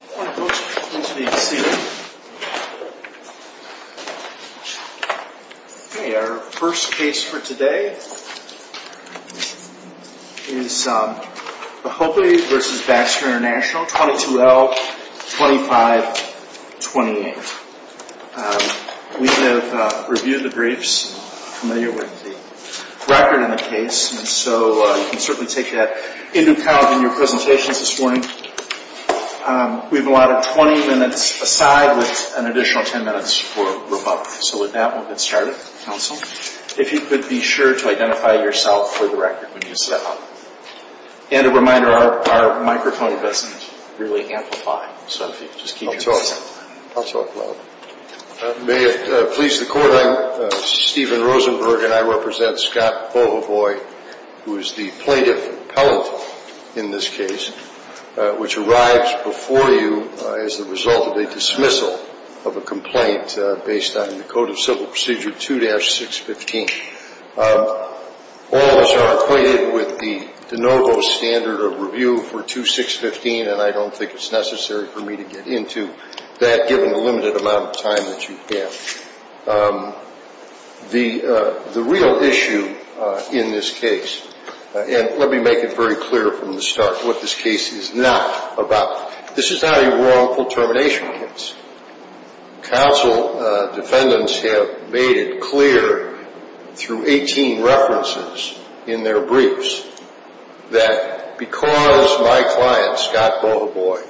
Good morning folks, it's good to be seated. Okay, our first case for today is Bahoboy v. Baxter International, 22L2528. We have reviewed the briefs and are familiar with the record in the case, and so you can certainly take that into account in your presentations this morning. We have allotted 20 minutes aside with an additional 10 minutes for rebuttal. So with that, we'll get started. Counsel, if you could be sure to identify yourself for the record when you step up. And a reminder, our microphone doesn't really amplify, so if you could just keep your voice down. I'll talk loud. May it please the Court, I'm Stephen Rosenberg, and I represent Scott Bahoboy, who is the plaintiff appellant in this case, which arrives before you as the result of a dismissal of a complaint based on the Code of Civil Procedure 2-615. All of us are acquainted with the de novo standard of review for 2-615, and I don't think it's necessary for me to get into that given the limited amount of time that you have. The real issue in this case, and let me make it very clear from the start what this case is not about. This is not a wrongful termination case. Counsel defendants have made it clear through 18 references in their briefs that because my client, Scott Bahoboy,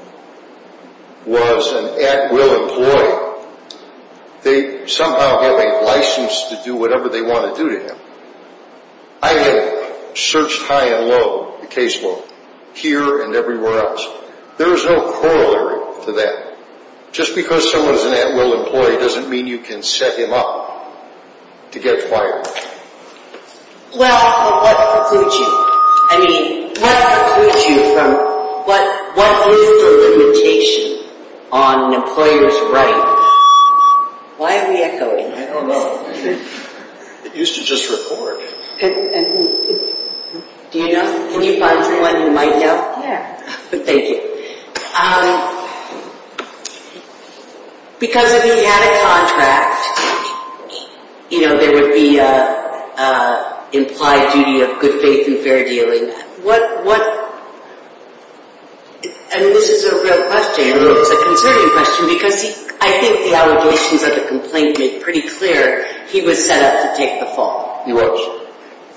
was an at-will employee, they somehow have a license to do whatever they want to do to him. I have searched high and low, the casebook, here and everywhere else. There is no corollary to that. Just because someone is an at-will employee doesn't mean you can set him up to get fired. Well, what precludes you? I mean, what precludes you from, what is the limitation on an employer's right? Why are we echoing? I don't know. It used to just record. Do you know? Can you find one you might know? Yeah. Thank you. Because if he had a contract, you know, there would be an implied duty of good faith and fair dealing. And this is a real question. It's a concerning question because I think the allegations of the complaint make pretty clear he was set up to take the fall. He was.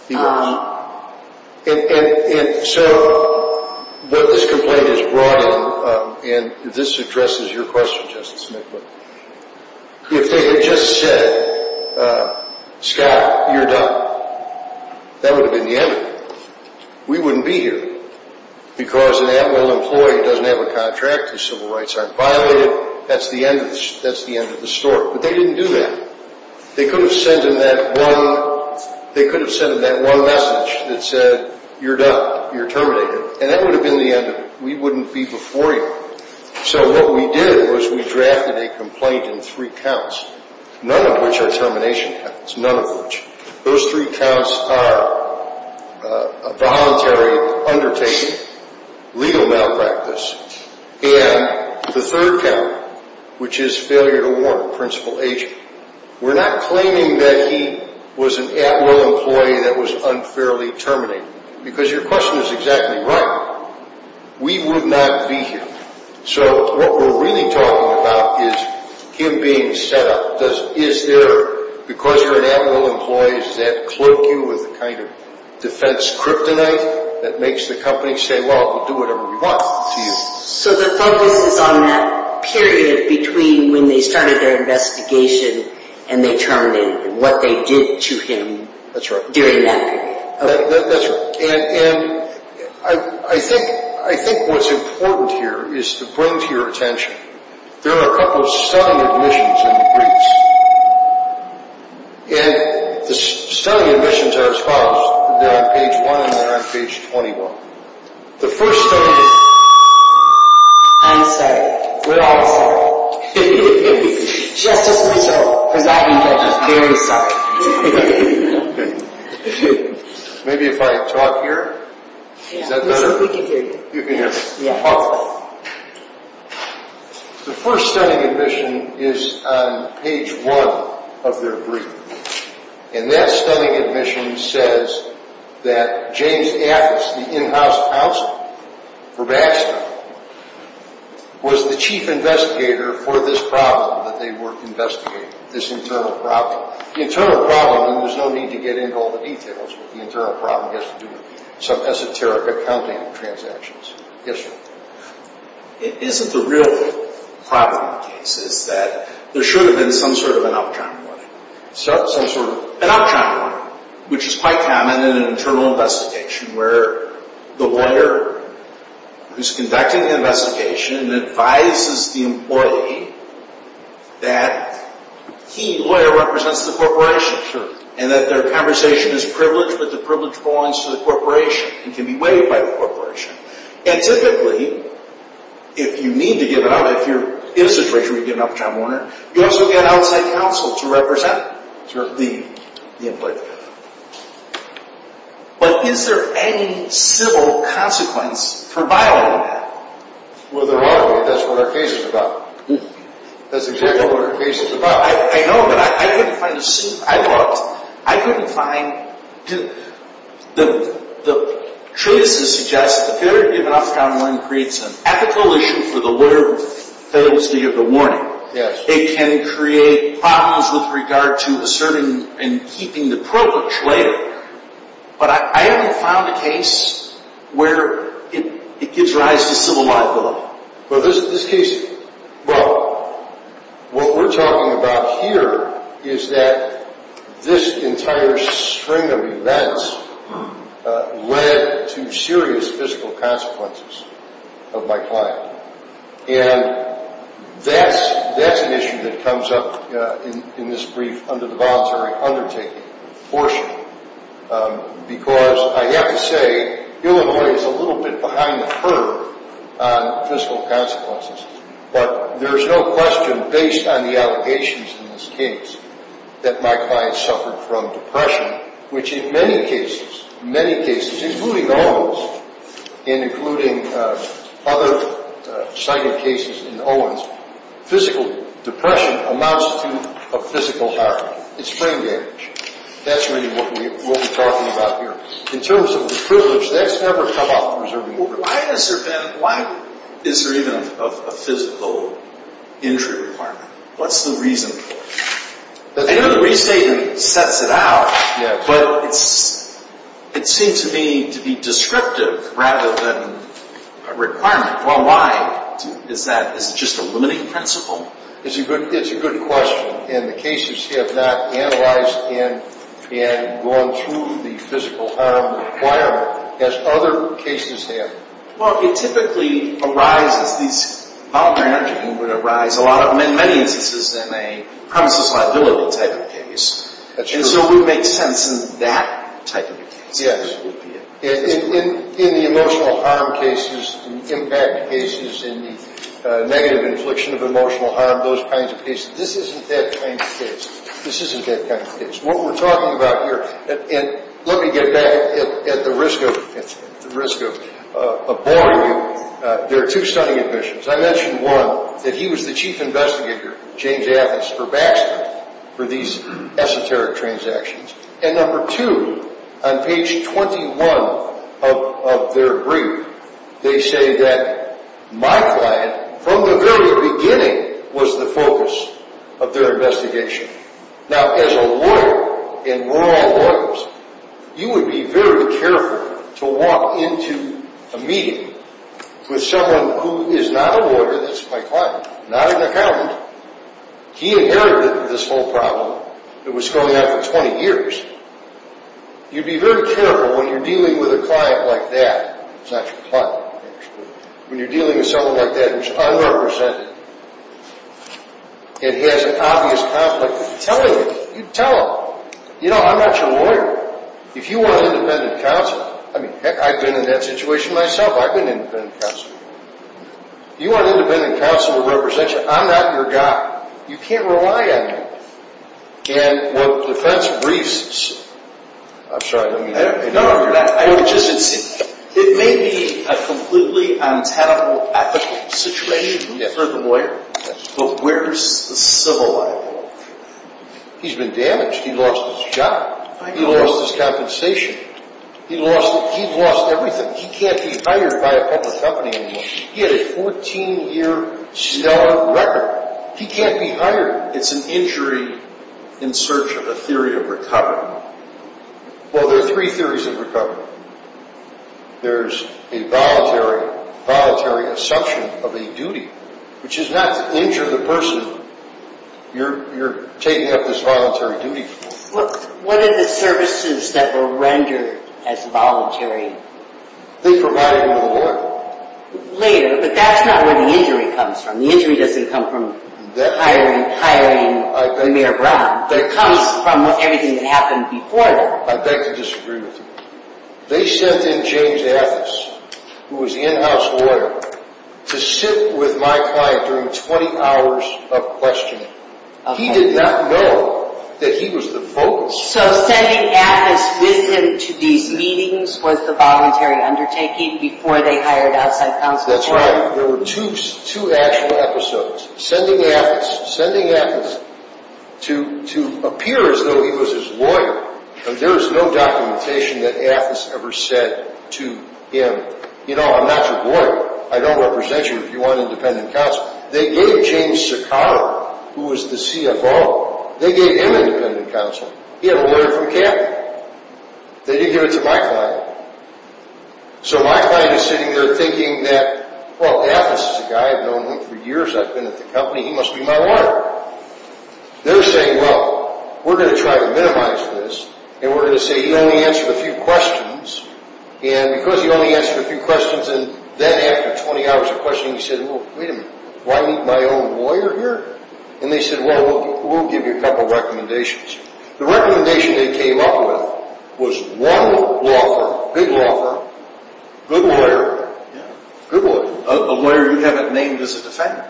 And so, what this complaint has brought in, and this addresses your question, Justice Smith, but if they had just said, Scott, you're done, that would have been the end of it. We wouldn't be here because an at-will employee doesn't have a contract, his civil rights aren't violated, that's the end of the story. But they didn't do that. They could have sent him that one message that said, you're done, you're terminated, and that would have been the end of it. We wouldn't be before you. So what we did was we drafted a complaint in three counts, none of which are termination counts, none of which. Those three counts are voluntary undertaking, legal malpractice, and the third count, which is failure to warrant a principal agent. We're not claiming that he was an at-will employee that was unfairly terminated, because your question is exactly right. We would not be here. So what we're really talking about is him being set up. Is there, because you're an at-will employee, does that cloak you with a kind of defense kryptonite that makes the company say, well, we'll do whatever we want to you? So the focus is on that period between when they started their investigation and they terminated him, what they did to him during that period. That's right. And I think what's important here is to bring to your attention, there are a couple of stunning admissions in the briefs. And the stunning admissions are as follows. They're on page 1 and they're on page 21. The first stunning is... I'm sorry. We're all sorry. Just as myself, because I've been told I'm very sorry. Maybe if I talk here? Is that better? We can hear you. You can hear me? Yeah. Awesome. The first stunning admission is on page 1 of their brief. And that stunning admission says that James Atkins, the in-house counsel for Baxter, was the chief investigator for this problem that they were investigating, this internal problem. The internal problem, and there's no need to get into all the details, but the internal problem has to do with some esoteric accounting transactions. Yes, sir. Isn't the real problem in the case is that there should have been some sort of an upturn? Sorry? Some sort of an upturn, which is quite common in an internal investigation, where the lawyer who's conducting the investigation advises the employee that he, the lawyer, represents the corporation. Sure. And that their conversation is privileged, but the privilege belongs to the corporation and can be waived by the corporation. And typically, if you need to give it up, if you're in a situation where you give it up to John Warner, you also get an outside counsel to represent the employee. But is there any civil consequence for violating that? Well, there ought to be. That's what our case is about. That's exactly what our case is about. I know, but I couldn't find a suit. I looked. I couldn't find. The treatise suggests that failure to give it up to John Warner creates an ethical issue for the lawyer who fails to give the warning. It can create problems with regard to asserting and keeping the privilege later. But I haven't found a case where it gives rise to civil liability. Well, what we're talking about here is that this entire string of events led to serious physical consequences of my client. And that's an issue that comes up in this brief under the voluntary undertaking portion. Because I have to say, Illinois is a little bit behind the curve on physical consequences. But there's no question, based on the allegations in this case, that my client suffered from depression, which in many cases, many cases, including Owens and including other cited cases in Owens, physical depression amounts to a physical harm. It's brain damage. That's really what we're talking about here. In terms of the privilege, that's never come up. Why is there even a physical injury requirement? What's the reason for it? I know the restatement sets it out, but it seems to me to be descriptive rather than a requirement. Why? Is it just a limiting principle? It's a good question. And the cases have not analyzed and gone through the physical harm requirement as other cases have. Well, it typically arises, this voluntary undertaking would arise, in many instances, in a premises liability type of case. And so it would make sense in that type of case. In the emotional harm cases, impact cases, in the negative infliction of emotional harm, those kinds of cases. This isn't that kind of case. This isn't that kind of case. What we're talking about here, and let me get back at the risk of boring you. There are two stunning admissions. I mentioned, one, that he was the chief investigator, James Athens, for Baxter for these esoteric transactions. And number two, on page 21 of their brief, they say that my client, from the very beginning, was the focus of their investigation. Now, as a lawyer, and we're all lawyers, you would be very careful to walk into a meeting with someone who is not a lawyer, that's my client, not an accountant. He inherited this whole problem. It was going on for 20 years. You'd be very careful when you're dealing with a client like that. It's not your client, actually. When you're dealing with someone like that who's unrepresented. It has an obvious conflict. Tell him. You tell him. You know, I'm not your lawyer. If you were an independent counselor, I mean, heck, I've been in that situation myself. I've been an independent counselor. You are an independent counselor of representation. I'm not your guy. You can't rely on me. And with defense briefs, I'm sorry, I didn't mean that. No, no, no. I would just insist. It may be a completely untenable ethical situation for the lawyer, but where's the civil life? He's been damaged. He lost his job. He lost his compensation. He lost everything. He can't be hired by a public company anymore. He had a 14-year stellar record. He can't be hired. It's an injury in search of a theory of recovery. Well, there are three theories of recovery. There's a voluntary assumption of a duty, which is not to injure the person you're taking up this voluntary duty for. What are the services that were rendered as voluntary? They provided them to the lawyer. Later, but that's not where the injury comes from. The injury doesn't come from hiring Mayor Brown, but it comes from everything that happened before that. I beg to disagree with you. They sent in James Athes, who was in-house lawyer, to sit with my client during 20 hours of questioning. He did not know that he was the focus. So sending Athes with him to these meetings was the voluntary undertaking before they hired outside counsel? That's right. There were two actual episodes. Sending Athes to appear as though he was his lawyer. There is no documentation that Athes ever said to him, you know, I'm not your lawyer. I don't represent you if you want independent counsel. They gave James Sakara, who was the CFO, they gave him independent counsel. He had a lawyer from Kappa. They didn't give it to my client. So my client is sitting there thinking that, well, Athes is a guy I've known for years. I've been at the company. He must be my lawyer. They're saying, well, we're going to try to minimize this, and we're going to say he only answered a few questions. And because he only answered a few questions, and then after 20 hours of questioning, he said, well, wait a minute. Do I need my own lawyer here? And they said, well, we'll give you a couple of recommendations. The recommendation they came up with was one law firm, big law firm, good lawyer, good lawyer. A lawyer you haven't named as a defendant.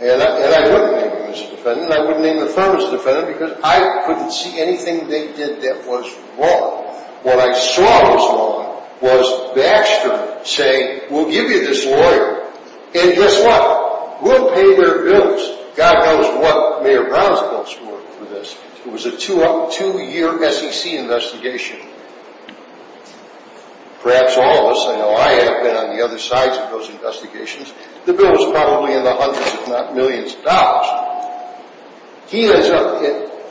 And I wouldn't name him as a defendant. And I wouldn't name the firm as a defendant because I couldn't see anything they did that was wrong. What I saw was wrong was Baxter saying, we'll give you this lawyer, and guess what? We'll pay their bills. God knows what Mayor Brown's bills were for this. It was a two-year SEC investigation. Perhaps all of us. I know I have been on the other sides of those investigations. The bill was probably in the hundreds, if not millions, of dollars.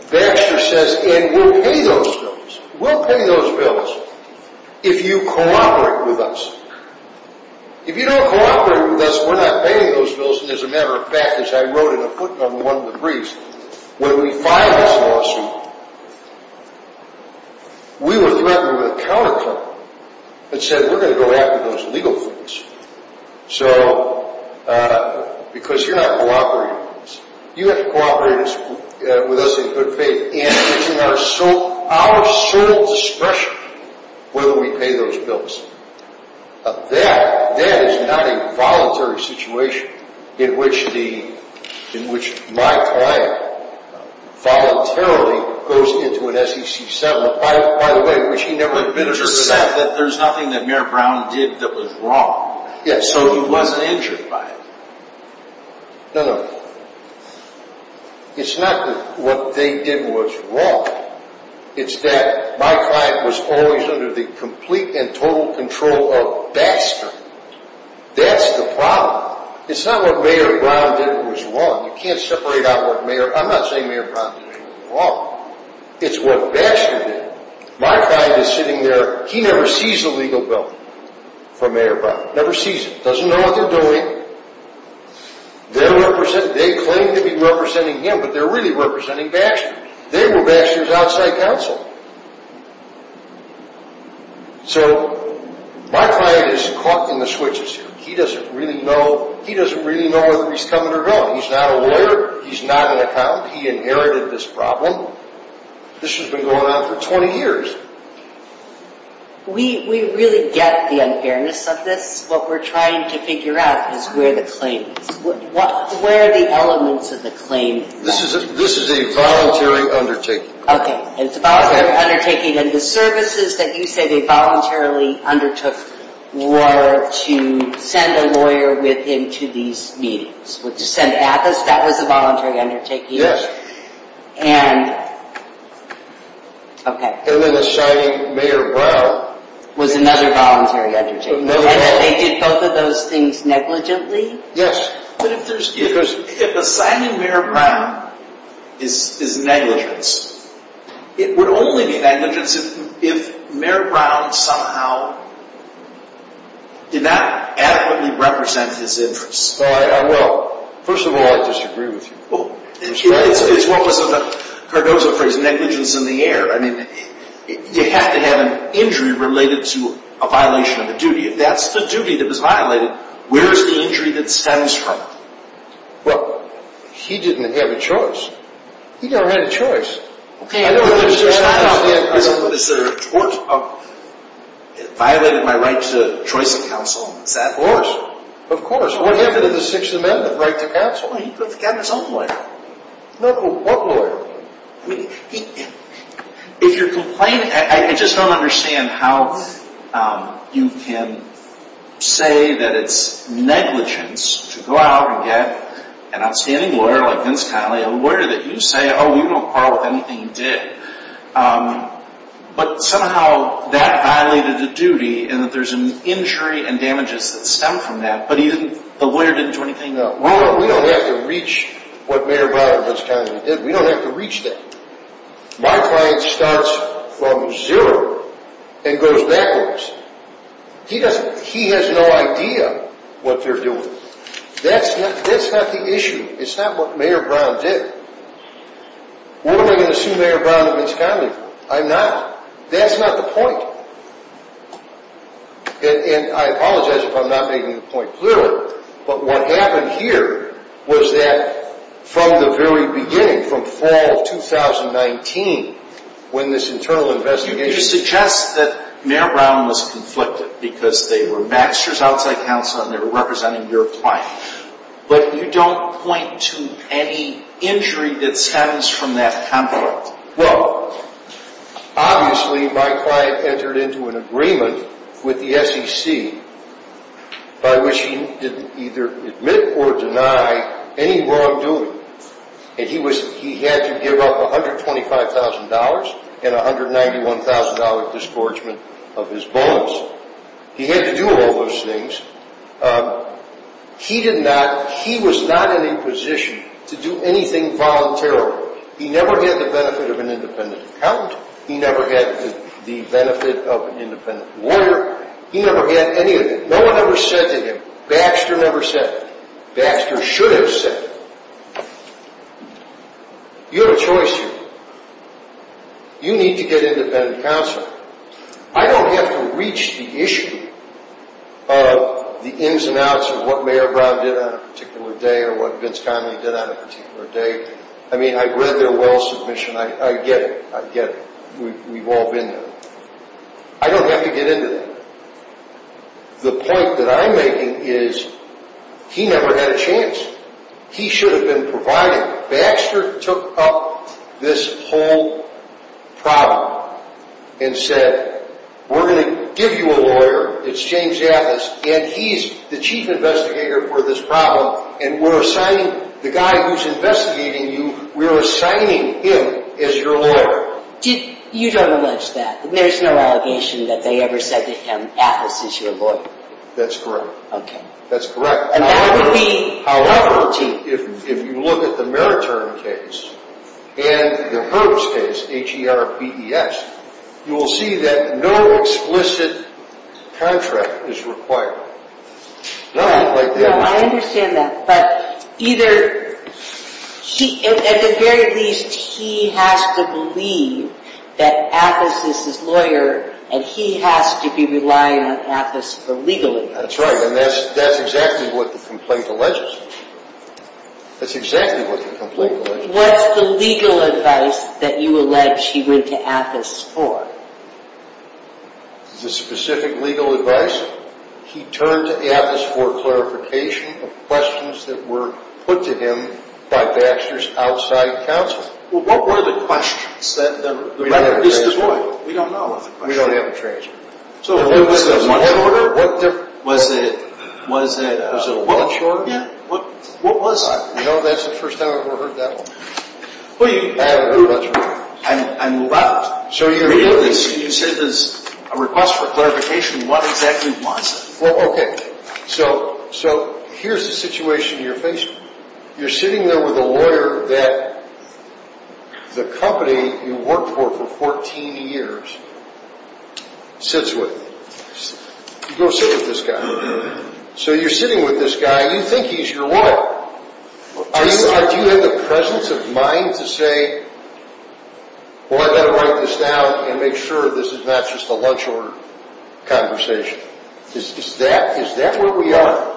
Baxter says, and we'll pay those bills. We'll pay those bills if you cooperate with us. If you don't cooperate with us, we're not paying those bills. And as a matter of fact, as I wrote in a footnote in one of the briefs, when we filed this lawsuit, we were threatened with a counterclaim that said we're going to go after those illegal things. So, because you're not cooperating with us, you have to cooperate with us in good faith and put in our sole discretion whether we pay those bills. That is not a voluntary situation in which my client voluntarily goes into an SEC settlement. But Baxter said that there's nothing that Mayor Brown did that was wrong. Yes. So he wasn't injured by it. No, no. It's not that what they did was wrong. It's that my client was always under the complete and total control of Baxter. That's the problem. It's not what Mayor Brown did was wrong. You can't separate out what Mayor, I'm not saying Mayor Brown did anything wrong. It's what Baxter did. My client is sitting there. He never sees a legal bill from Mayor Brown. Never sees it. Doesn't know what they're doing. They claim to be representing him, but they're really representing Baxter. They were Baxter's outside counsel. So, my client is caught in the switches here. He doesn't really know whether he's coming or going. He's not a lawyer. He's not an accountant. He inherited this problem. This has been going on for 20 years. We really get the unfairness of this. What we're trying to figure out is where the claim is. Where are the elements of the claim? This is a voluntary undertaking. Okay. It's a voluntary undertaking. And the services that you say they voluntarily undertook were to send a lawyer into these meetings. Sent at us? That was a voluntary undertaking? And... Okay. And then assigning Mayor Brown... Was another voluntary undertaking. And they did both of those things negligently? Yes. If assigning Mayor Brown is negligence, it would only be negligence if Mayor Brown somehow did not adequately represent his interests. Well, I will. First of all, I disagree with you. It's what was the Cardozo phrase, negligence in the air. I mean, you have to have an injury related to a violation of a duty. If that's the duty that was violated, where is the injury that stems from? Well, he didn't have a choice. He never had a choice. Is there a tort of violating my right to choice of counsel? Is that... Of course. What happened in the Sixth Amendment? Right to counsel? He got his own lawyer. What lawyer? If you're complaining... I just don't understand how you can say that it's negligence to go out and get an outstanding lawyer like Vince Conley, a lawyer that you say, oh, we won't quarrel with anything you did. But somehow that violated the duty and that there's an injury and damages that stem from that. But the lawyer didn't do anything though. We don't have to reach what Mayor Brown and Vince Conley did. We don't have to reach that. My client starts from zero and goes backwards. He has no idea what they're doing. That's not the issue. It's not what Mayor Brown did. What am I going to sue Mayor Brown and Vince Conley for? I'm not. That's not the point. And I apologize if I'm not making the point clearly. But what happened here was that from the very beginning, from fall of 2019, when this internal investigation... You suggest that Mayor Brown was conflicted because they were Baxter's outside counsel and they were representing your client. But you don't point to any injury that stems from that conflict. Well, obviously my client entered into an agreement with the SEC by which he didn't either admit or deny any wrongdoing. And he had to give up $125,000 and $191,000 disgorgement of his bonus. He had to do all those things. He was not in a position to do anything voluntarily. He never had the benefit of an independent accountant. He never had the benefit of an independent lawyer. He never had any of it. No one ever said to him, Baxter never said it. Baxter should have said it. You have a choice here. You need to get independent counsel. I don't have to reach the issue of the ins and outs of what Mayor Brown did on a particular day or what Vince Connelly did on a particular day. I mean, I read their will submission. I get it. I get it. We've all been there. I don't have to get into that. The point that I'm making is he never had a chance. He should have been provided. Baxter took up this whole problem and said, we're going to give you a lawyer. It's James Atlas. And he's the chief investigator for this problem. And we're assigning the guy who's investigating you, we're assigning him as your lawyer. You don't allege that. There's no allegation that they ever said to him, Atlas is your lawyer. That's correct. Okay. That's correct. However, if you look at the Meritern case and the Herbst case, H-E-R-B-E-S, you will see that no explicit contract is required. Nothing like that. No, I understand that. But at the very least, he has to believe that Atlas is his lawyer and he has to be relying on Atlas for legal advice. That's right. And that's exactly what the complaint alleges. That's exactly what the complaint alleges. What's the legal advice that you allege he went to Atlas for? The specific legal advice? He turned to Atlas for clarification of questions that were put to him by Baxter's outside counsel. Well, what were the questions? The record is devoid. We don't know. We don't have a transcript. So, was it a warrant order? Was it a warrant shortening? What was it? No, that's the first time I've ever heard that one. Well, you said there's a request for clarification. What exactly was it? Well, okay. So, here's the situation you're facing. You're sitting there with a lawyer that the company you worked for for 14 years sits with. You go sit with this guy. So, you're sitting with this guy. You think he's your lawyer. Do you have the presence of mind to say, well, I've got to write this down and make sure this is not just a lunch order conversation? Is that where we are?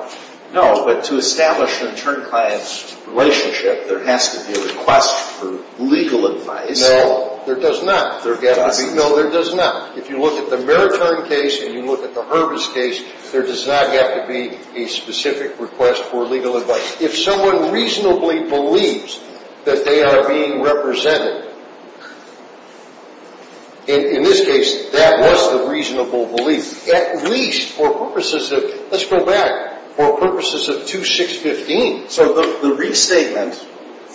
No, but to establish an intern client's relationship, there has to be a request for legal advice. No, there does not. There doesn't? No, there does not. If you look at the Maritone case and you look at the Herbis case, there does not have to be a specific request for legal advice. If someone reasonably believes that they are being represented, in this case, that was the reasonable belief. At least for purposes of, let's go back, for purposes of 2-6-15. So, the restatement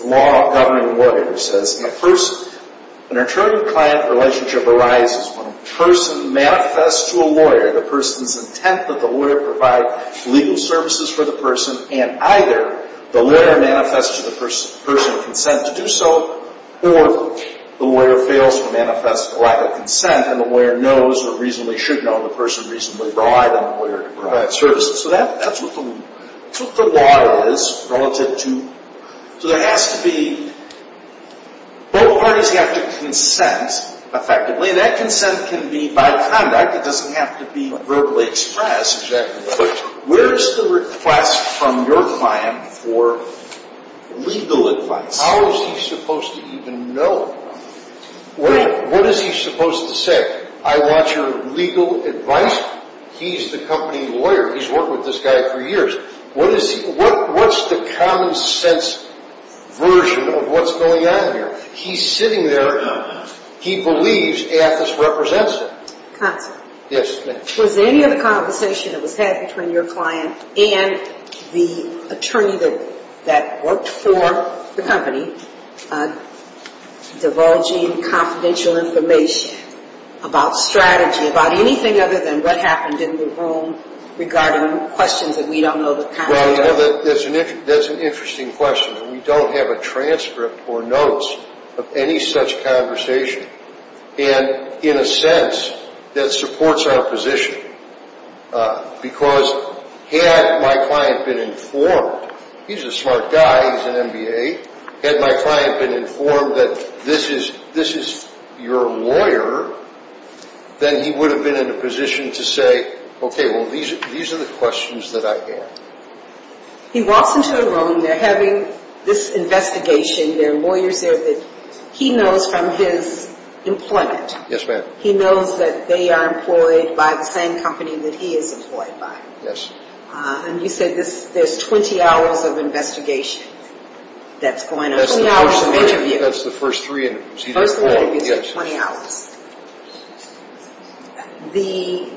law governing lawyers says, at first, an intern client relationship arises when a person manifests to a lawyer the person's intent that the lawyer provide legal services for the person, and either the lawyer manifests to the person consent to do so, or the lawyer fails to manifest a lack of consent and the lawyer knows or reasonably should know the person reasonably relied on the lawyer to provide services. So that's what the law is relative to. So there has to be, both parties have to consent effectively. That consent can be by conduct. It doesn't have to be verbally expressed. But where is the request from your client for legal advice? How is he supposed to even know? What is he supposed to say? I want your legal advice? He's the company lawyer. He's worked with this guy for years. What's the common sense version of what's going on here? He's sitting there. He believes Athis represents him. Yes, ma'am. Was any of the conversation that was had between your client and the attorney that worked for the company divulging confidential information about strategy, about anything other than what happened in the room regarding questions that we don't know the content of? Well, you know, that's an interesting question. We don't have a transcript or notes of any such conversation. And in a sense, that supports our position. Because had my client been informed, he's a smart guy, he's an MBA, had my client been informed that this is your lawyer, then he would have been in a position to say, okay, well, these are the questions that I have. He walks into a room. They're having this investigation. There are lawyers there that he knows from his employment. Yes, ma'am. He knows that they are employed by the same company that he is employed by. Yes. And you said there's 20 hours of investigation that's going on, 20 hours of interview. That's the first three interviews. The first three interviews are 20 hours. The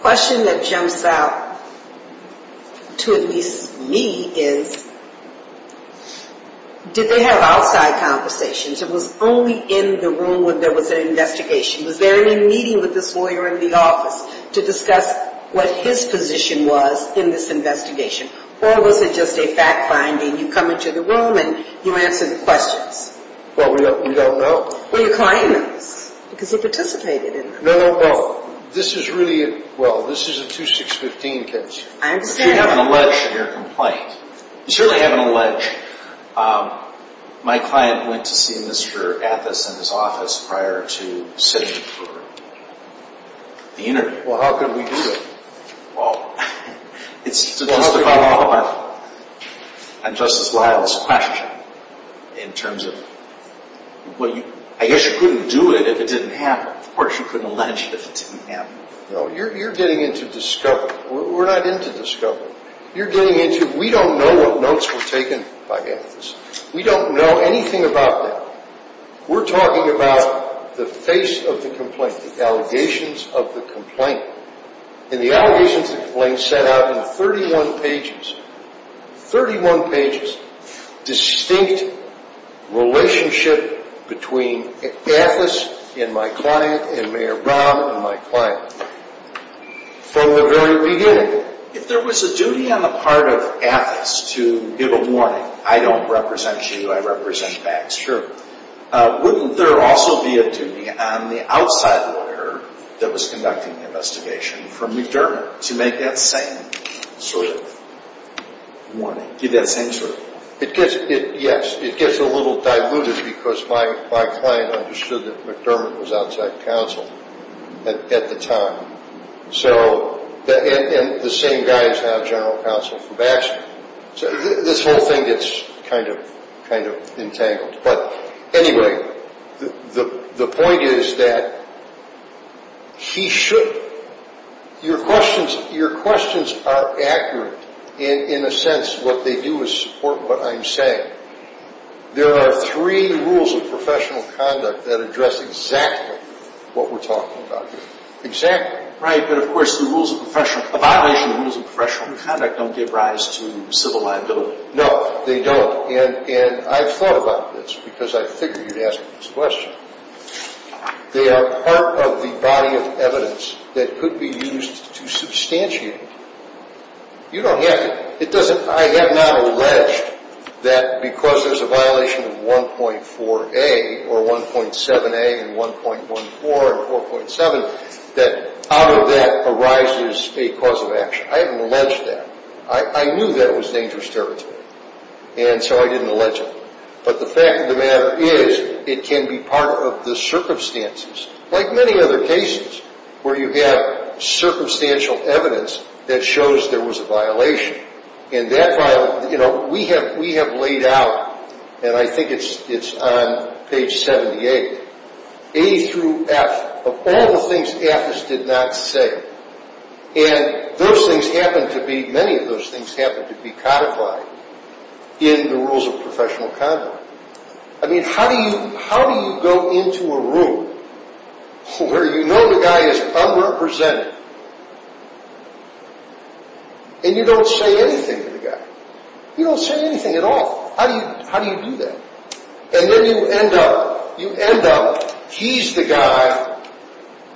question that jumps out to at least me is, did they have outside conversations? It was only in the room when there was an investigation. Was there any meeting with this lawyer in the office to discuss what his position was in this investigation? Or was it just a fact-finding? You come into the room and you answer the questions. Well, we don't know. Well, your client knows because he participated in this. No, no, no. This is really a – well, this is a 2-6-15 case. I understand. But you have an allege in your complaint. You certainly have an allege. My client went to see Mr. Athus in his office prior to sitting for the interview. Well, how could we do it? It's just a follow-up on Justice Lyle's question in terms of – well, I guess you couldn't do it if it didn't happen. Of course, you couldn't allege it if it didn't happen. No, you're getting into discovery. We're not into discovery. You're getting into – we don't know what notes were taken by Athus. We don't know anything about that. We're talking about the face of the complaint, the allegations of the complaint. And the allegations of the complaint set out in 31 pages – 31 pages – distinct relationship between Athus and my client and Mayor Rahm and my client from the very beginning. If there was a duty on the part of Athus to give a warning, I don't represent you, I represent Bax, sure, wouldn't there also be a duty on the outside lawyer that was conducting the investigation for McDermott to make that same sort of warning – give that same sort of warning? It gets – yes, it gets a little diluted because my client understood that McDermott was outside counsel at the time. So – and the same guy is now general counsel for Baxter. This whole thing gets kind of entangled. But anyway, the point is that he should – your questions are accurate in a sense. What they do is support what I'm saying. There are three rules of professional conduct that address exactly what we're talking about here. Exactly. Right, but of course the rules of professional – a violation of the rules of professional conduct don't give rise to civil liability. No, they don't. And I've thought about this because I figured you'd ask me this question. They are part of the body of evidence that could be used to substantiate it. You don't have to – it doesn't – I have not alleged that because there's a violation of 1.4a or 1.7a and 1.14 and 4.7 that out of that arises a cause of action. I haven't alleged that. I knew that it was dangerous territory, and so I didn't allege it. But the fact of the matter is it can be part of the circumstances, like many other cases, where you have circumstantial evidence that shows there was a violation. And that – we have laid out, and I think it's on page 78, A through F of all the things AFIS did not say. And those things happen to be – many of those things happen to be codified in the rules of professional conduct. I mean, how do you go into a room where you know the guy is unrepresented, and you don't say anything to the guy? You don't say anything at all. How do you do that? And then you end up – you end up – he's the guy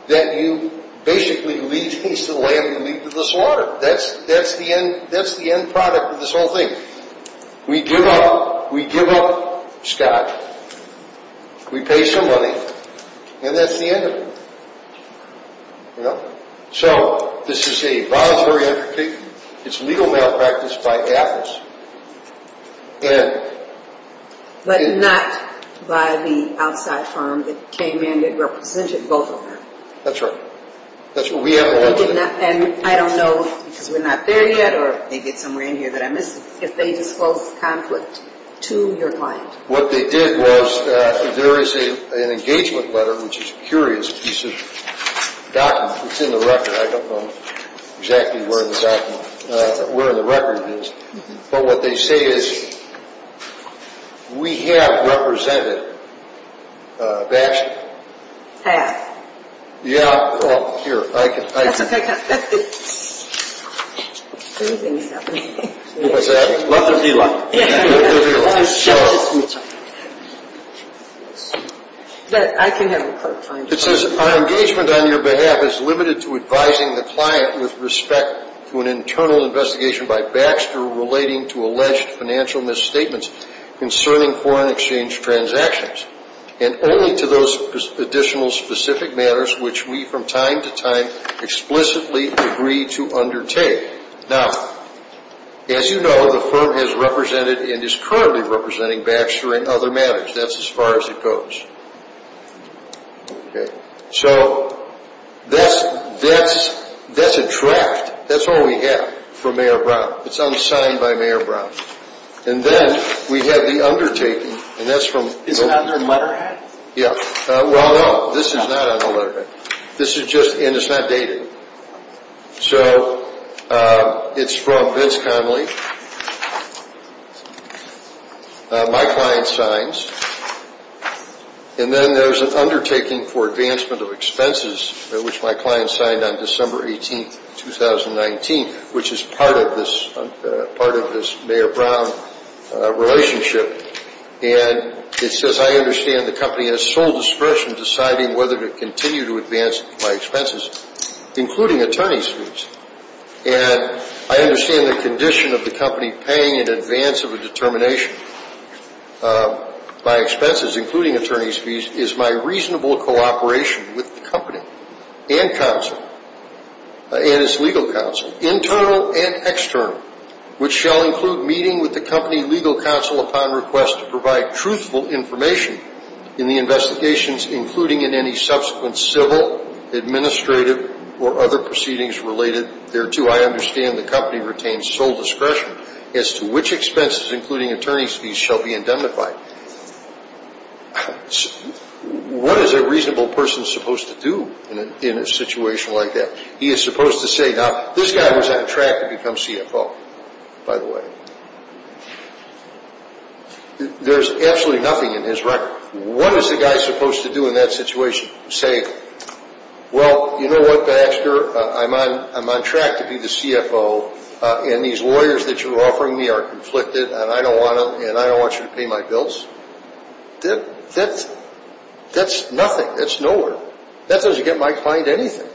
that you basically lead to the land and lead to the slaughter. That's the end product of this whole thing. We give up. We give up scotch. We pay some money, and that's the end of it. You know? So this is a voluntary – it's legal malpractice by AFIS. And – But not by the outside firm that came in and represented both of them. That's right. That's what we have to look at. And I don't know, because we're not there yet, or maybe it's somewhere in here that I missed it, if they disclosed the conflict to your client. What they did was there is an engagement letter, which is a curious piece of document. It's in the record. I don't know exactly where in the document – where in the record it is. But what they say is, we have represented Baxter. Yeah. Here, I can – That's okay. Everything is happening. What's that? Love to be loved. Love to be loved. I can have a look. It says, Our engagement on your behalf is limited to advising the client with respect to an internal investigation by Baxter relating to alleged financial misstatements concerning foreign exchange transactions, and only to those additional specific matters which we from time to time explicitly agree to undertake. Now, as you know, the firm has represented and is currently representing Baxter in other matters. That's as far as it goes. So that's a draft. That's all we have for Mayor Brown. It's unsigned by Mayor Brown. And then we have the undertaking, and that's from – Is it on their letterhead? Yeah. Well, no. This is not on the letterhead. This is just – and it's not dated. So it's from Vince Conley. My client signs. And then there's an undertaking for advancement of expenses, which my client signed on December 18, 2019, which is part of this Mayor Brown relationship. And it says, I understand the company has sole discretion in deciding whether to continue to advance my expenses, including attorney's fees. And I understand the condition of the company paying in advance of a determination by expenses, including attorney's fees, is my reasonable cooperation with the company and counsel, and its legal counsel, internal and external, which shall include meeting with the company legal counsel upon request to provide truthful information in the investigations, including in any subsequent civil, administrative, or other proceedings related thereto. I understand the company retains sole discretion as to which expenses, including attorney's fees, shall be indemnified. What is a reasonable person supposed to do in a situation like that? He is supposed to say, now, this guy was on track to become CFO, by the way. There's absolutely nothing in his record. What is the guy supposed to do in that situation? Say, well, you know what, Baxter? I'm on track to be the CFO, and these lawyers that you're offering me are conflicted, and I don't want them, and I don't want you to pay my bills. That's nothing. That's nowhere. That doesn't get my client anything.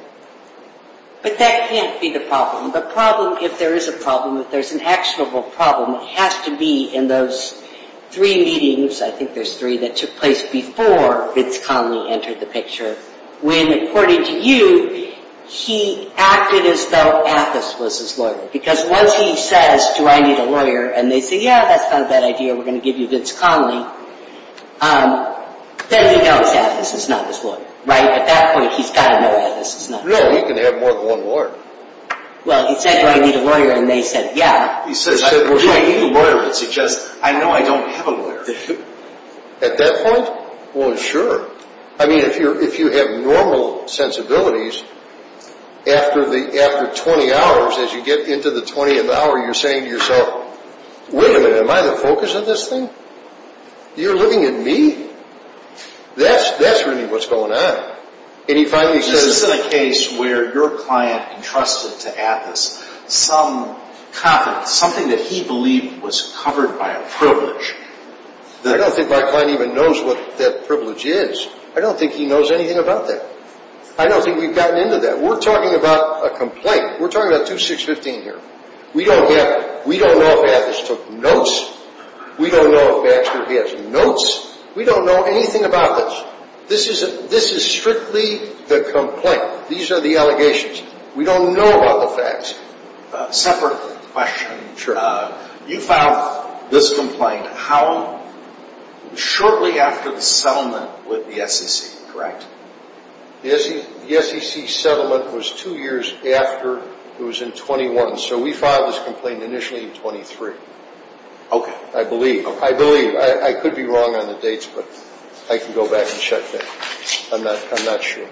But that can't be the problem. The problem, if there is a problem, if there's an actionable problem, has to be in those three meetings, I think there's three, that took place before Vince Conley entered the picture, when, according to you, he acted as though Atheis was his lawyer. Because once he says, do I need a lawyer, and they say, yeah, that's kind of a bad idea, we're going to give you Vince Conley, then he knows Atheis is not his lawyer, right? At that point, he's got to know Atheis is not his lawyer. No, he can have more than one lawyer. Well, he said, do I need a lawyer, and they said, yeah. He said, do I need a lawyer, and he said, I know I don't have a lawyer. At that point, well, sure. I mean, if you have normal sensibilities, after 20 hours, as you get into the 20th hour, you're saying to yourself, wait a minute, am I the focus of this thing? You're looking at me? That's really what's going on. This isn't a case where your client entrusted to Atheis some confidence, something that he believed was covered by a privilege. I don't think my client even knows what that privilege is. I don't think he knows anything about that. I don't think we've gotten into that. We're talking about a complaint. We're talking about 2615 here. We don't know if Atheis took notes. We don't know if Baxter has notes. We don't know anything about this. This is strictly the complaint. These are the allegations. We don't know about the facts. Separate question. You filed this complaint shortly after the settlement with the SEC, correct? The SEC settlement was two years after it was in 21. So we filed this complaint initially in 23. Okay. I believe. I believe. I could be wrong on the dates, but I can go back and check that. I'm not sure.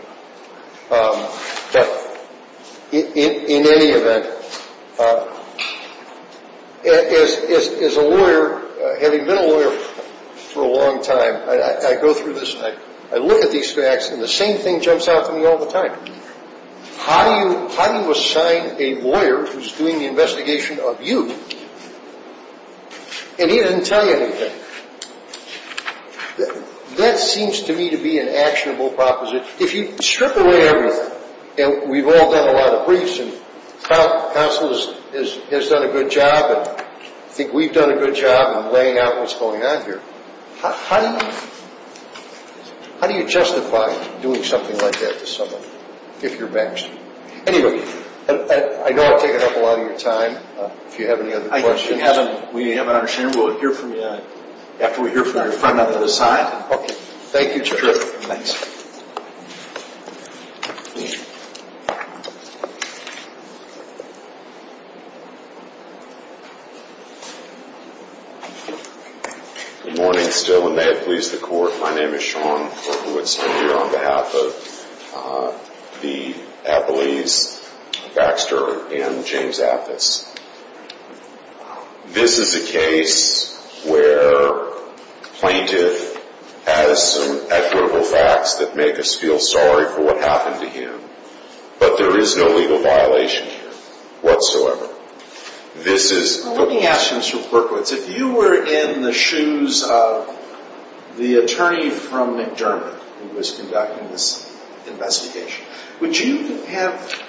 But in any event, as a lawyer, having been a lawyer for a long time, I go through this and I look at these facts, and the same thing jumps out to me all the time. How do you assign a lawyer who's doing the investigation of you, and he didn't tell you anything? That seems to me to be an actionable proposition. If you strip away everything, and we've all done a lot of briefs, and counsel has done a good job, and I think we've done a good job in laying out what's going on here, how do you justify doing something like that to someone if you're Baxter? Anyway, I know I've taken up a lot of your time. If you have any other questions. We haven't understood. We'll hear from you after we hear from our friend on the other side. Okay. Thank you, sir. Sure. Good morning, still, and may it please the Court. My name is Sean Berkowitz, and I'm here on behalf of the Appellees Baxter and James Aftis. This is a case where a plaintiff has some equitable facts that make us feel sorry for what happened to him, but there is no legal violation here whatsoever. Let me ask you, Mr. Berkowitz, if you were in the shoes of the attorney from McDermott who was conducting this investigation, would you have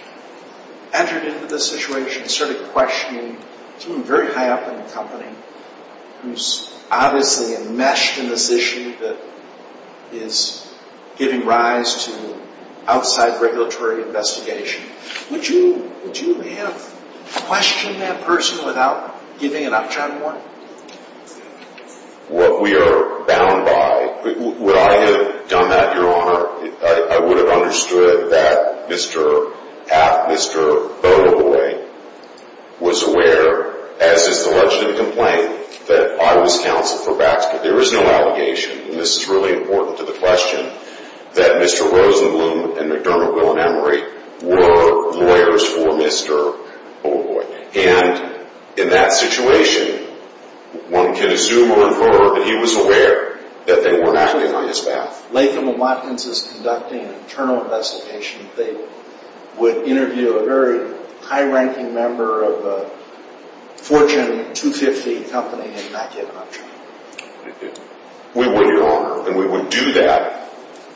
entered into this situation, started questioning someone very high up in the company who's obviously enmeshed in this issue that is giving rise to outside regulatory investigation, would you have questioned that person without giving an upturn more? What we are bound by. Would I have done that, Your Honor? I would have understood that Mr. Aft, Mr. Beaulieu, was aware, as is the legislative complaint, that I was counsel for Baxter. There is no allegation, and this is really important to the question, that Mr. Rosenblum and McDermott, Will and Emery were lawyers for Mr. Beaulieu. And in that situation, one can assume or infer that he was aware that they were acting on his behalf. Latham & Watkins is conducting an internal investigation. They would interview a very high-ranking member of a Fortune 250 company and not give an upturn. We would, Your Honor, and we would do that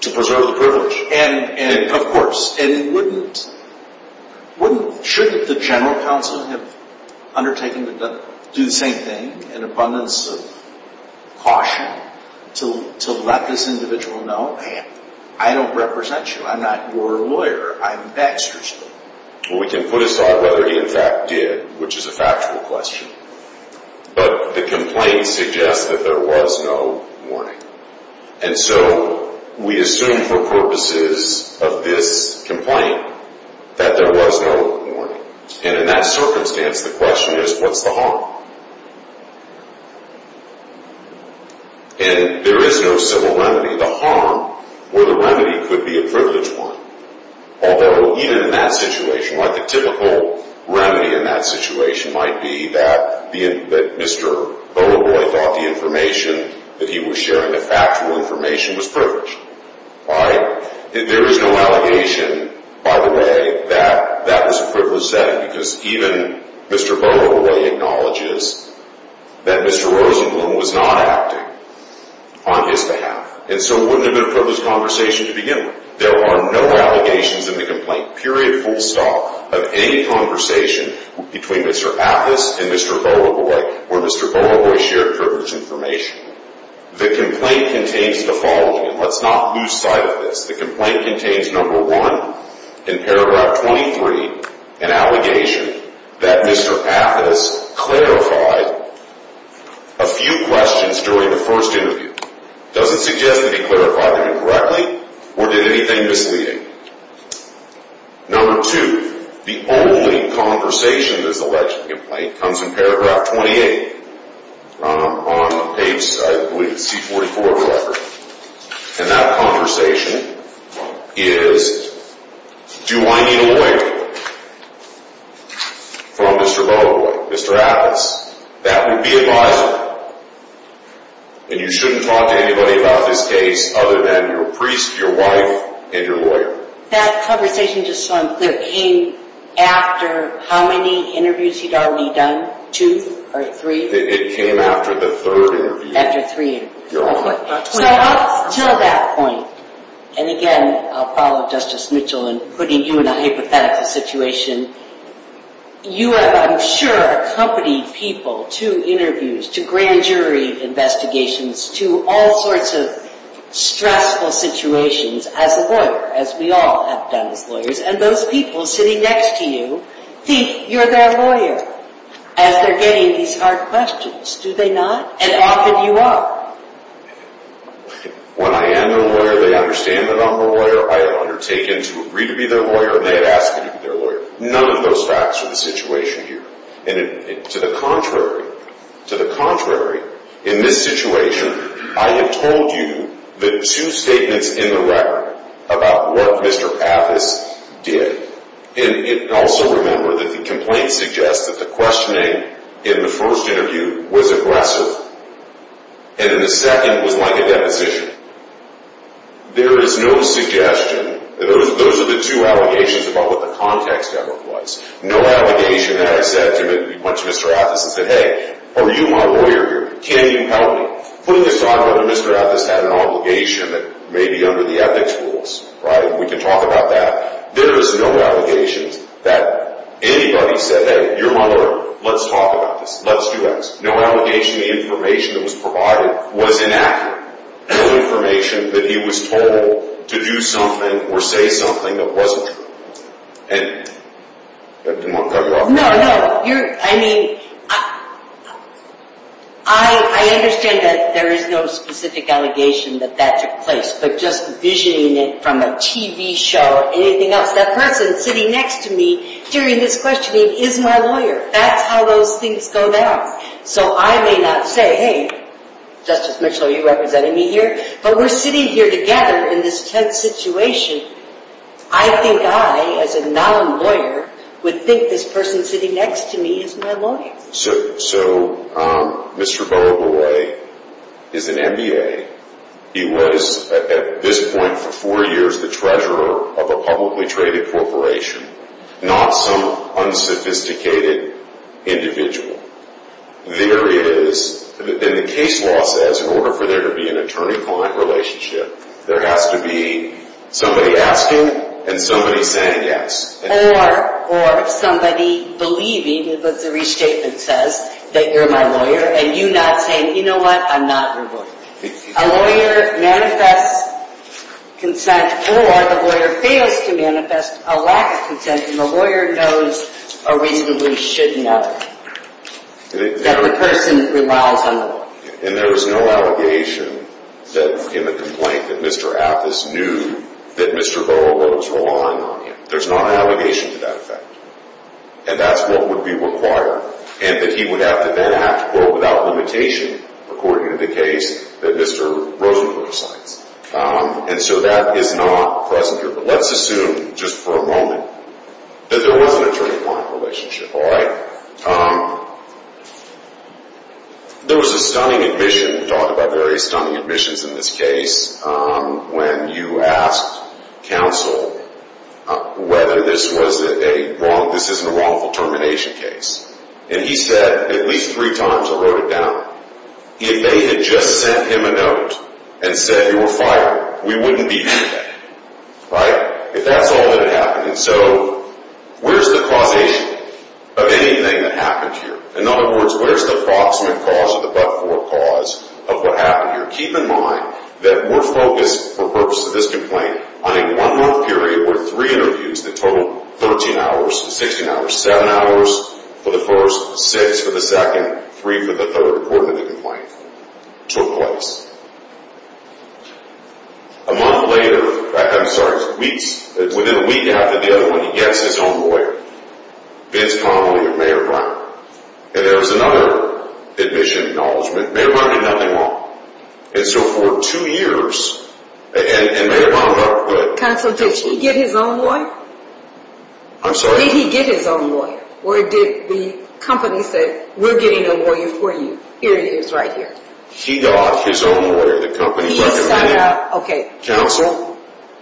to preserve the privilege. And, of course, wouldn't, shouldn't the general counsel have undertaken to do the same thing, an abundance of caution to let this individual know, man, I don't represent you. I'm not your lawyer. I'm Baxter's lawyer. Well, we can put aside whether he, in fact, did, which is a factual question. But the complaint suggests that there was no warning. And so we assume for purposes of this complaint that there was no warning. And in that circumstance, the question is, what's the harm? And there is no civil remedy. The harm or the remedy could be a privileged one. Although even in that situation, like the typical remedy in that situation might be that Mr. Beaulieu thought the information that he was sharing, the factual information, was privileged. There is no allegation, by the way, that that was a privileged setting because even Mr. Beaulieu acknowledges that Mr. Rosenblum was not acting on his behalf. And so it wouldn't have been a privileged conversation to begin with. There are no allegations in the complaint, period, full stop, of any conversation between Mr. Athis and Mr. Beaulieu where Mr. Beaulieu shared privileged information. The complaint contains the following. Let's not lose sight of this. The complaint contains number one, in paragraph 23, an allegation that Mr. Athis clarified a few questions during the first interview. Doesn't suggest that he clarified them incorrectly or did anything misleading. Number two, the only conversation in this alleged complaint comes in paragraph 28 on page, I believe, C-44 of the record. And that conversation is, do I need a lawyer from Mr. Beaulieu, Mr. Athis? That would be advisable. And you shouldn't talk to anybody about this case other than your priest, your wife, and your lawyer. That conversation, just so I'm clear, came after how many interviews are we done? Two or three? It came after the third interview. After three interviews. So up until that point, and again, I'll follow Justice Mitchell in putting you in a hypothetical situation, you have, I'm sure, accompanied people to interviews, to grand jury investigations, to all sorts of stressful situations as a lawyer, as we all have done as lawyers. And those people sitting next to you think you're their lawyer as they're getting these hard questions. Do they not? And often you are. When I am a lawyer, they understand that I'm a lawyer. I have undertaken to agree to be their lawyer and they have asked me to be their lawyer. None of those facts are the situation here. To the contrary, to the contrary, in this situation, I have told you the two statements in the record about what Mr. Pappas did. And also remember that the complaint suggests that the questioning in the first interview was aggressive and in the second was like a deposition. There is no suggestion, those are the two allegations about what the context of it was, no allegation that I said to Mr. Pappas, I said, hey, are you my lawyer here? Can you help me? Putting aside whether Mr. Pappas had an obligation that may be under the ethics rules, right? We can talk about that. There is no allegations that anybody said, hey, you're my lawyer, let's talk about this, let's do this. No allegation of the information that was provided was inaccurate. No information that he was told to do something or say something that wasn't true. And I didn't want to cut you off. No, no, you're, I mean, I understand that there is no specific allegation that that took place, but just envisioning it from a TV show, anything else, that person sitting next to me during this questioning is my lawyer. That's how those things go down. So I may not say, hey, Justice Mitchell, are you representing me here? But we're sitting here together in this tense situation. I think I, as a non-lawyer, would think this person sitting next to me is my lawyer. So Mr. Boa Boy is an MBA. He was, at this point for four years, the treasurer of a publicly traded corporation, not some unsophisticated individual. There is, and the case law says, in order for there to be an attorney-client relationship, there has to be somebody asking and somebody saying yes. Or somebody believing, as the restatement says, that you're my lawyer, and you not saying, you know what, I'm not your lawyer. A lawyer manifests consent, or the lawyer fails to manifest a lack of consent, and the lawyer knows, or reasonably should know, that the person relies on the law. And there is no allegation that in the complaint that Mr. Appus knew that Mr. Boa Boy was relying on him. There's not an allegation to that effect. And that's what would be required. And that he would have to then act, quote, without limitation, according to the case that Mr. Rosenberg cites. And so that is not present here. But let's assume, just for a moment, that there was an attorney-client relationship, all right? There was a stunning admission, we talked about various stunning admissions in this case, when you asked counsel whether this was a wrong, this isn't a wrongful termination case. And he said, at least three times, I wrote it down, if they had just sent him a note and said you were fired, we wouldn't be here today. Right? If that's all that had happened. And so, where's the causation of anything that happened here? In other words, where's the approximate cause or the but-for cause of what happened here? Now, keep in mind that we're focused, for the purpose of this complaint, on a one-month period where three interviews that totaled 13 hours, 16 hours, 7 hours for the first, 6 for the second, 3 for the third, according to the complaint, took place. A month later, I'm sorry, within a week after the other one, he gets his homeboy, Vince Connelly of Mayor Brown. And there was another admission acknowledgement. And Mayor Brown did nothing wrong. And so, for two years, and Mayor Brown... Counsel, did he get his own lawyer? I'm sorry? Did he get his own lawyer? Or did the company say, we're getting a lawyer for you. Here he is, right here. He got his own lawyer. The company recommended... He sought out... Counsel,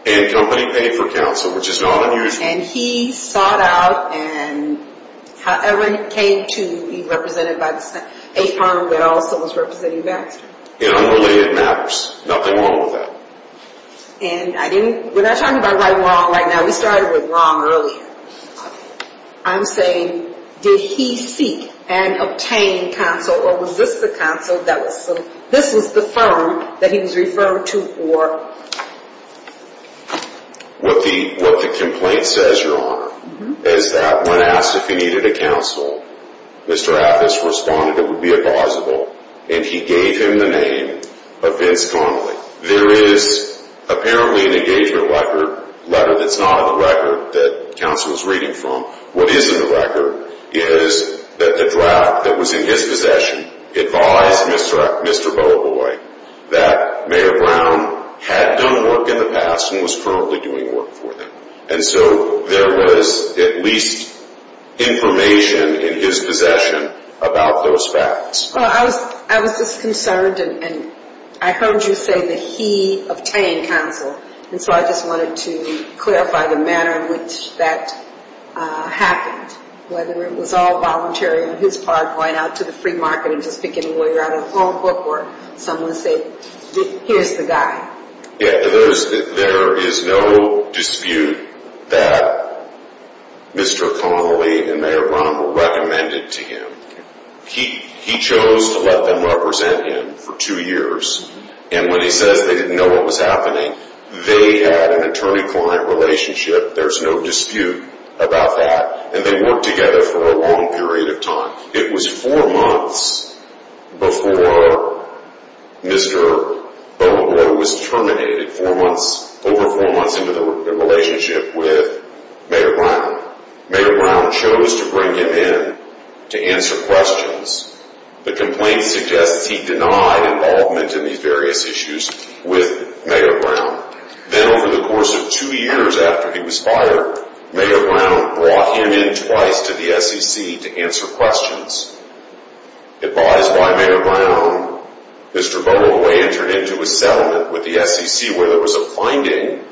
and the company paid for counsel, which is not unusual. And he sought out and however he came to be represented by a firm that also was representing Baxter. You know, unrelated matters. Nothing wrong with that. And I didn't... We're not talking about right or wrong right now. We started with wrong earlier. I'm saying, did he seek and obtain counsel, or was this the counsel that was... This was the firm that he was referred to for... What the complaint says, Your Honor, is that when asked if he needed a counsel, Mr. Affis responded it would be a causable, and he gave him the name of Vince Connelly. There is apparently an engagement letter that's not on the record that counsel is reading from. What is in the record is that the draft that was in his possession advised Mr. Beaubois that Mayor Brown had done work in the past and was currently doing work for them. And so there was at least information in his possession about those facts. Well, I was just concerned, and I heard you say that he obtained counsel. And so I just wanted to clarify the manner in which that happened, whether it was all voluntary on his part, going out to the free market and just picking a lawyer out of a phone book, or someone said, here's the guy. Yeah, there is no dispute that Mr. Connelly and Mayor Brown were recommended to him. He chose to let them represent him for two years, and when he says they didn't know what was happening, they had an attorney-client relationship. There's no dispute about that, and they worked together for a long period of time. It was four months before Mr. Beaubois was terminated, over four months into the relationship with Mayor Brown. Mayor Brown chose to bring him in to answer questions. The complaint suggests he denied involvement in these various issues with Mayor Brown. Then over the course of two years after he was fired, Mayor Brown brought him in twice to the SEC to answer questions. Advised by Mayor Brown, Mr. Beaubois entered into a settlement with the SEC where there was a finding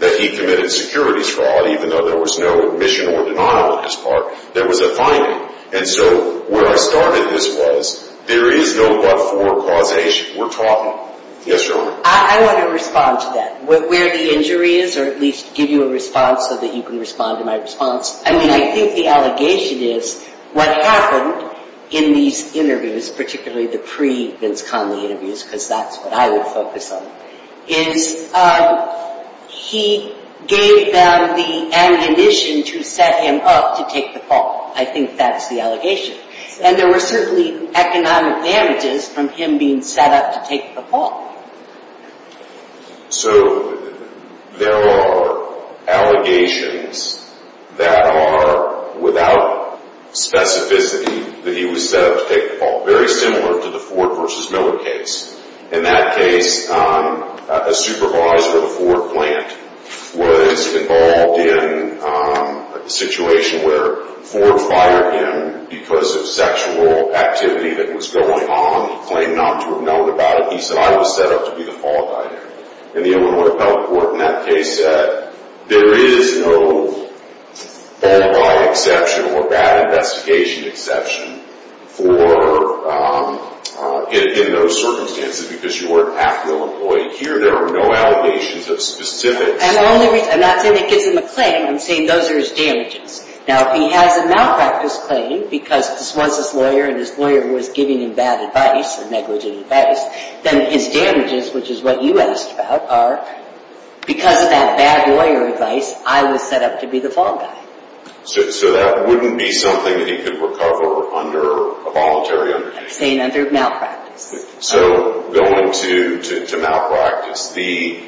that he committed securities fraud, even though there was no admission or denial on his part. There was a finding. And so where I started this was, there is no but-for causation. We're talking. Yes, Your Honor. I want to respond to that, where the injury is, or at least give you a response so that you can respond to my response. I mean, I think the allegation is what happened in these interviews, particularly the pre-Vince Conley interviews, because that's what I would focus on, is he gave them the ammunition to set him up to take the fall. I think that's the allegation. And there were certainly economic damages from him being set up to take the fall. So there are allegations that are without specificity that he was set up to take the fall, very similar to the Ford v. Miller case. In that case, a supervisor at a Ford plant was involved in a situation where Ford fired him because of sexual activity that was going on. He claimed not to have known about it. He said, I was set up to be the fall guy there. And the Illinois Appellate Court, in that case, said there is no fall guy exception or bad investigation exception in those circumstances because you weren't half the employee. Here, there are no allegations of specific... I'm not saying that gives him a claim. I'm saying those are his damages. Now, if he has a malpractice claim, because this was his lawyer, and his lawyer was giving him bad advice, and negligent advice, then his damages, which is what you asked about, are because of that bad lawyer advice, I was set up to be the fall guy. So that wouldn't be something that he could recover under a voluntary undertaking? I'm saying under malpractice. So going to malpractice, the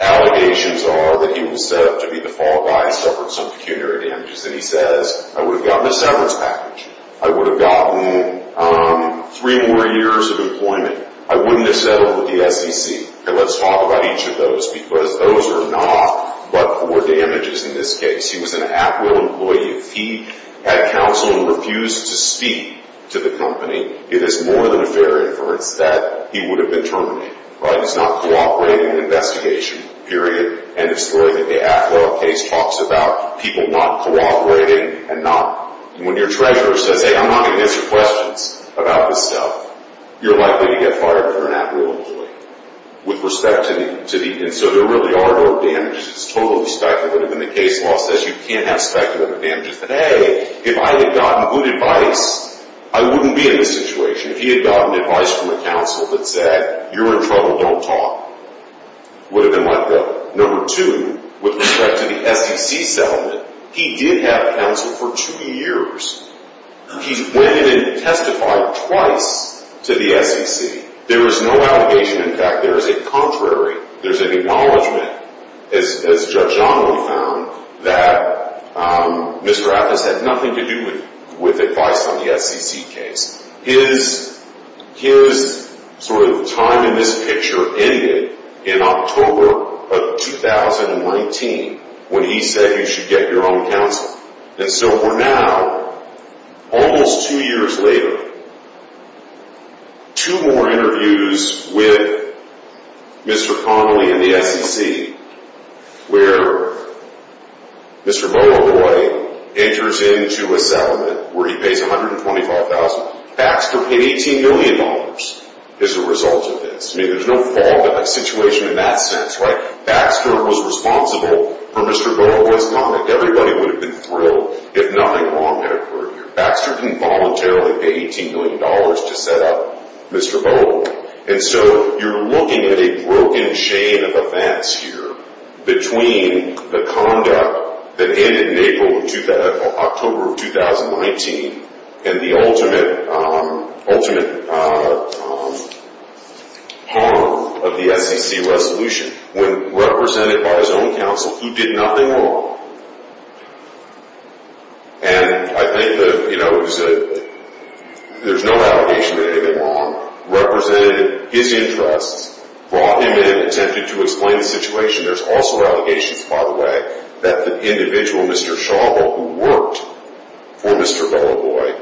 allegations are that he was set up to be the fall guy, suffered some pecuniary damages, and he says, I would have gotten a severance package. I would have gotten three more years of employment. I wouldn't have settled with the SEC. Let's talk about each of those, because those are not but-for damages in this case. He was an at-will employee. If he had counsel and refused to speak to the company, it is more than a fair inference that he would have been terminated. He's not cooperating in an investigation, period, and exploited. The at-will case talks about people not cooperating and not... When your treasurer says, hey, I'm not going to answer questions about this stuff, you're likely to get fired for an at-will employee. With respect to the... And so there really are no damages. It's totally speculative. And the case law says you can't have speculative damages. But, hey, if I had gotten good advice, I wouldn't be in this situation. If he had gotten advice from a counsel that said, you're in trouble, don't talk, it would have been like that. Number two, with respect to the SEC settlement, he did have counsel for two years. He went in and testified twice to the SEC. There was no allegation. In fact, there is a contrary. There's an acknowledgment, as Judge Donnelly found, that Mr. Atkins had nothing to do with advice on the SEC case. His sort of time in this picture ended in October of 2019 when he said you should get your own counsel. And so we're now, almost two years later, two more interviews with Mr. Connolly and the SEC, where Mr. Boakye enters into a settlement where he pays $125,000. Baxter paid $18 million as a result of this. I mean, there's no fallback situation in that sense, right? Baxter was responsible for Mr. Boakye's conduct. Everybody would have been thrilled if nothing wrong had occurred here. Baxter didn't voluntarily pay $18 million to set up Mr. Boakye. And so you're looking at a broken chain of events here between the conduct that ended in October of 2019 and the ultimate harm of the SEC resolution. When represented by his own counsel, who did nothing wrong? And I think there's no allegation that anything wrong represented his interests, brought him in and attempted to explain the situation. There's also allegations, by the way, that the individual, Mr. Shaw, who worked for Mr. Boaboy,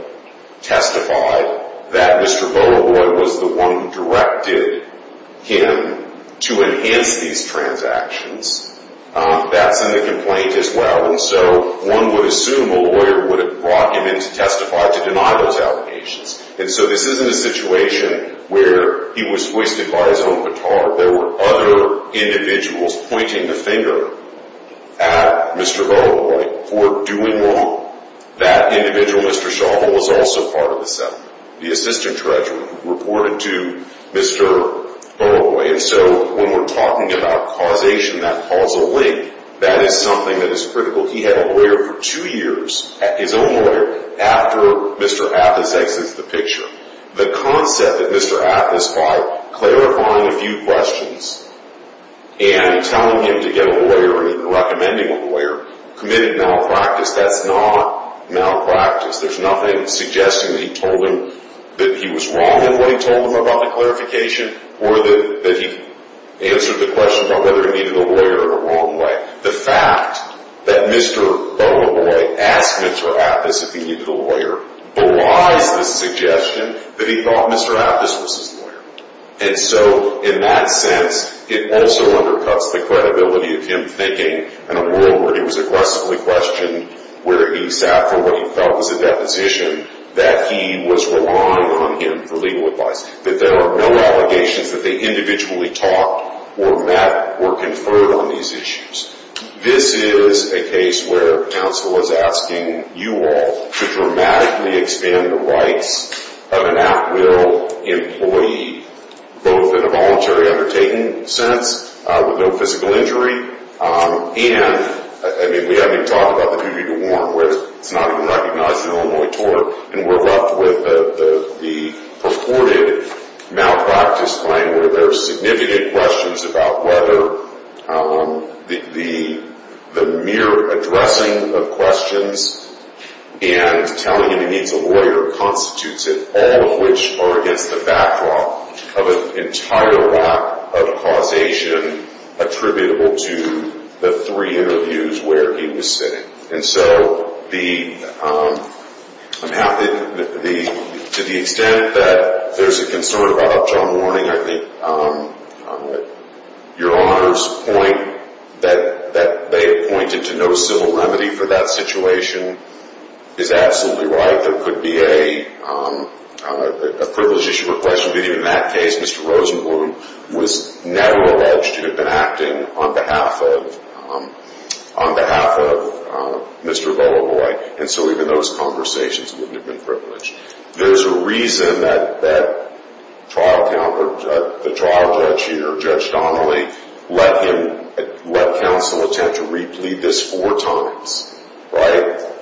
testified that Mr. Boaboy was the one who directed him to enhance these transactions. That's in the complaint as well. And so one would assume a lawyer would have brought him in to testify to deny those allegations. And so this isn't a situation where he was hoisted by his own baton. There were other individuals pointing the finger at Mr. Boaboy for doing wrong. That individual, Mr. Shaw, was also part of the settlement. The assistant treasurer reported to Mr. Boaboy. And so when we're talking about causation, that causal link, that is something that is critical. He had a lawyer for two years, his own lawyer, after Mr. Atlas exits the picture. The concept that Mr. Atlas, by clarifying a few questions and telling him to get a lawyer and recommending a lawyer, committed malpractice, that's not malpractice. There's nothing suggesting that he told him that he was wrong in what he told him about the clarification or that he answered the question about whether he needed a lawyer in a wrong way. The fact that Mr. Boaboy asked Mr. Atlas if he needed a lawyer belies the suggestion that he thought Mr. Atlas was his lawyer. And so in that sense, it also undercuts the credibility of him thinking in a world where he was aggressively questioned, where he sat for what he felt was a deposition, that he was relying on him for legal advice, that there are no allegations that they individually talked or met or conferred on these issues. This is a case where counsel is asking you all to dramatically expand the rights of an at-will employee, both in a voluntary undertaking sense, with no physical injury, and we haven't even talked about the duty to warn, where it's not even recognized in Illinois tort, and we're left with the purported malpractice claim where there are significant questions about whether the mere addressing of questions and telling him he needs a lawyer constitutes it, all of which are against the backdrop of an entire lack of causation attributable to the three interviews where he was sitting. And so to the extent that there's a concern about John warning, I think Your Honor's point that they have pointed to no civil remedy for that situation is absolutely right. There could be a privilege issue or question, Mr. Rosenblum was never alleged to have been acting on behalf of Mr. Volovoi, and so even those conversations wouldn't have been privileged. There's a reason that the trial judge here, Judge Donnelly, let counsel attempt to re-plead this four times.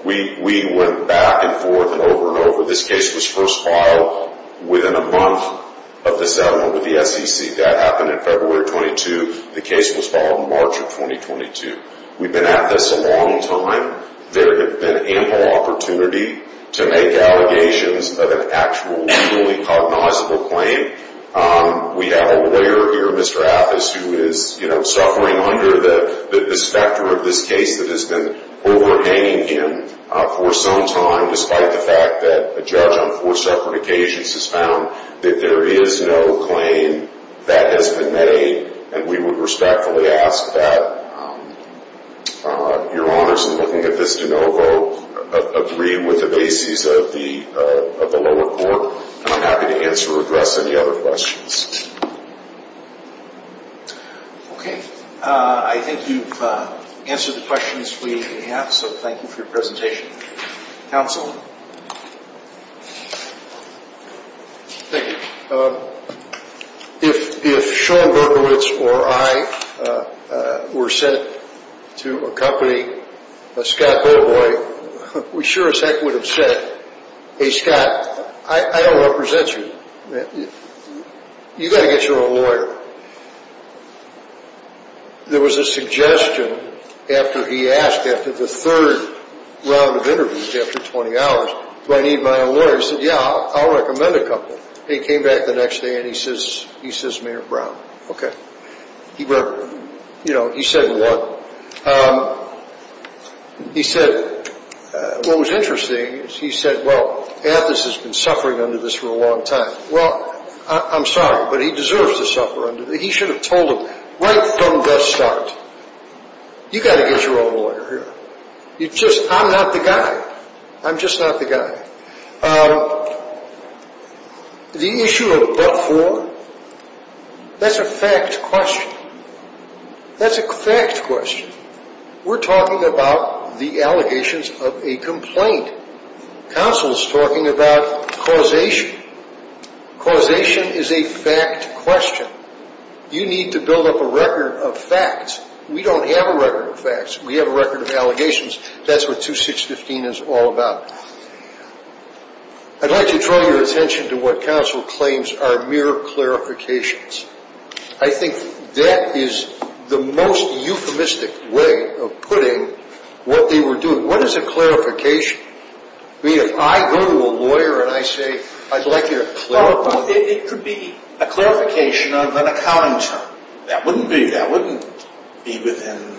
We went back and forth and over and over. This case was first filed within a month of the settlement with the SEC. That happened in February of 22. The case was filed in March of 2022. We've been at this a long time. There has been ample opportunity to make allegations of an actual, legally cognizable claim. We have a lawyer here, Mr. Appus, who is suffering under the specter of this case that has been overhanging him for some time despite the fact that a judge on four separate occasions has found that there is no claim that has been made, and we would respectfully ask that Your Honors in looking at this de novo agree with the bases of the lower court, and I'm happy to answer or address any other questions. Okay. I think you've answered the questions we have, so thank you for your presentation. Counsel? Thank you. If Sean Berkowitz or I were sent to accompany Scott Boboy, we sure as heck would have said, Hey, Scott, I don't represent you. You've got to get your own lawyer. There was a suggestion after he asked, after the third round of interviews after 20 hours, Do I need my own lawyer? He said, Yeah, I'll recommend a couple. He came back the next day and he says, Mayor Brown. Okay. You know, he said what? He said what was interesting is he said, Well, Appus has been suffering under this for a long time. Well, I'm sorry, but he deserves to suffer. He should have told him right from the start. You've got to get your own lawyer here. I'm not the guy. I'm just not the guy. The issue of but for, that's a fact question. That's a fact question. We're talking about the allegations of a complaint. Counsel is talking about causation. Causation is a fact question. You need to build up a record of facts. We don't have a record of facts. We have a record of allegations. That's what 2615 is all about. I'd like to draw your attention to what counsel claims are mere clarifications. I think that is the most euphemistic way of putting what they were doing. What is a clarification? I mean, if I go to a lawyer and I say, I'd like you to clarify. It could be a clarification of an accounting term. That wouldn't be within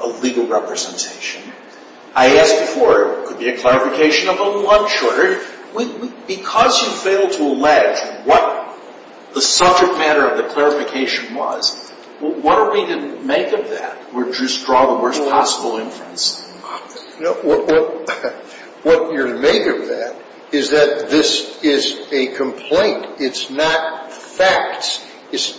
a legal representation. I asked before, it could be a clarification of a lunch order. Because you failed to allege what the subject matter of the clarification was, What are we to make of that? Or just draw the worst possible inference? What you're to make of that is that this is a complaint. It's not facts. It's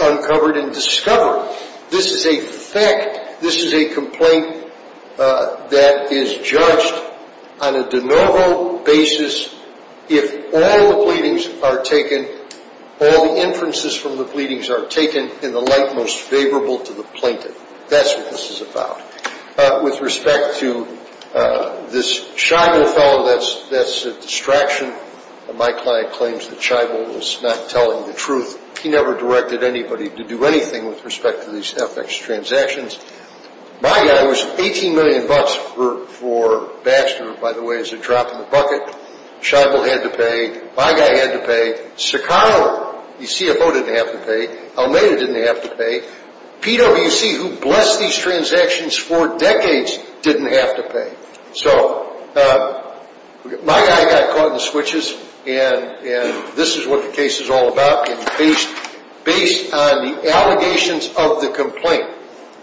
uncovered and discovered. This is a fact. This is a complaint that is judged on a de novo basis. If all the pleadings are taken, all the inferences from the pleadings are taken in the light most favorable to the plaintiff. That's what this is about. With respect to this Scheibel fellow, that's a distraction. My client claims that Scheibel was not telling the truth. He never directed anybody to do anything with respect to these FX transactions. My guy was 18 million bucks for Baxter, by the way, as a drop in the bucket. Scheibel had to pay. My guy had to pay. Sacano, the CFO, didn't have to pay. Almeida didn't have to pay. PwC, who blessed these transactions for decades, didn't have to pay. So my guy got caught in the switches. And this is what the case is all about. And based on the allegations of the complaint,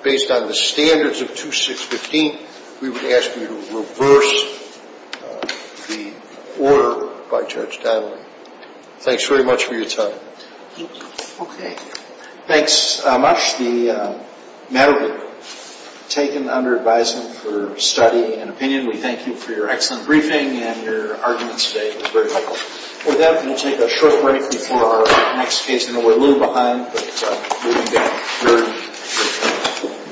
based on the standards of 2615, we would ask you to reverse the order by Judge Dowling. Thanks very much for your time. Okay. Thanks, Amash. The matter taken under advisement for study and opinion. We thank you for your excellent briefing and your arguments today. It was very helpful. With that, we'll take a short break before our next case. I know we're a little behind, but we'll be back very shortly.